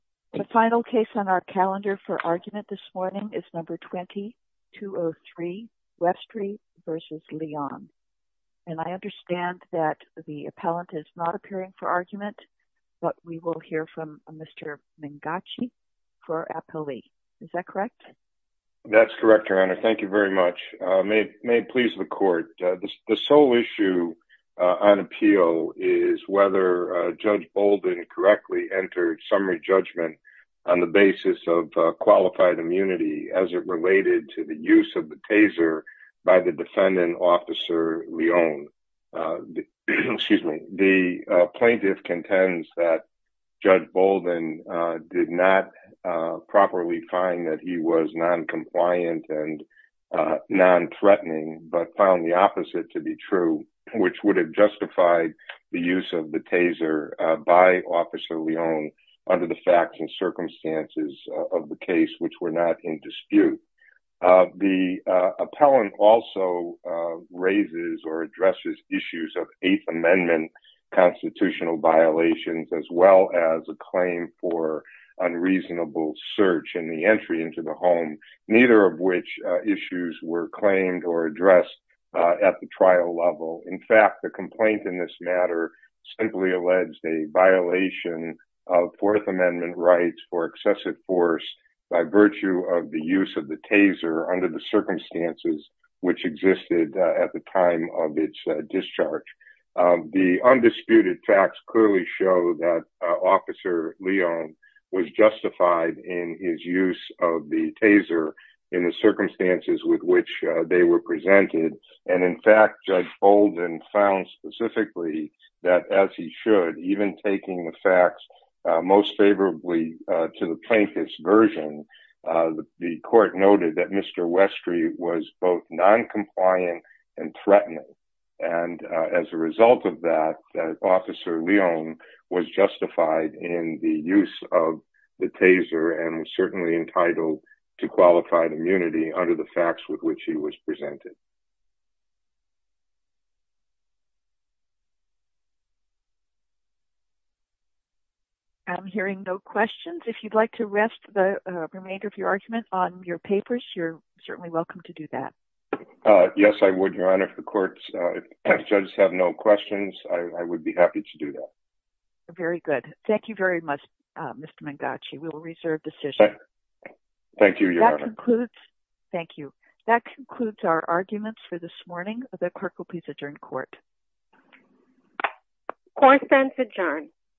The final case on our calendar for argument this morning is No. 20-203, Westry v. Leon. And I understand that the appellant is not appearing for argument, but we will hear from Mr. Mingacci for our appellee. Is that correct? That's correct, Your Honor. Thank you very much. May it please the court, the sole issue on appeal is whether Judge Bolden correctly entered summary judgment on the basis of qualified immunity as it related to the use of the taser by the defendant, Officer Leon. Excuse me. The plaintiff contends that Judge Bolden did not properly find that he was noncompliant and nonthreatening, but found the opposite to be true, which would have justified the use of the taser by Officer Leon under the facts and circumstances of the case, which were not in dispute. The appellant also raises or addresses issues of Eighth Amendment constitutional violations as well as a claim for unreasonable search in the entry into the home, neither of which issues were claimed or addressed at the trial level. In fact, the complaint in this matter simply alleged a violation of Fourth Amendment rights for excessive force by virtue of the use of the taser under the circumstances which existed at the time of its discharge. The undisputed facts clearly show that Officer Leon was justified in his use of the taser in the circumstances with which they were presented. And in fact, Judge Bolden found specifically that, as he should, even taking the facts most favorably to the plaintiff's version, the court noted that Mr. Westry was both noncompliant and threatening. And as a result of that, Officer Leon was justified in the use of the taser and certainly entitled to qualified immunity under the facts with which he was presented. I'm hearing no questions. If you'd like to rest the remainder of your argument on your papers, you're certainly welcome to do that. Yes, I would, Your Honor. If the courts have no questions, I would be happy to do that. Very good. Thank you very much, Mr. Mangachi. We will reserve decision. Thank you, Your Honor. Thank you. That concludes our arguments for this morning. The clerk will please adjourn court. Court is adjourned.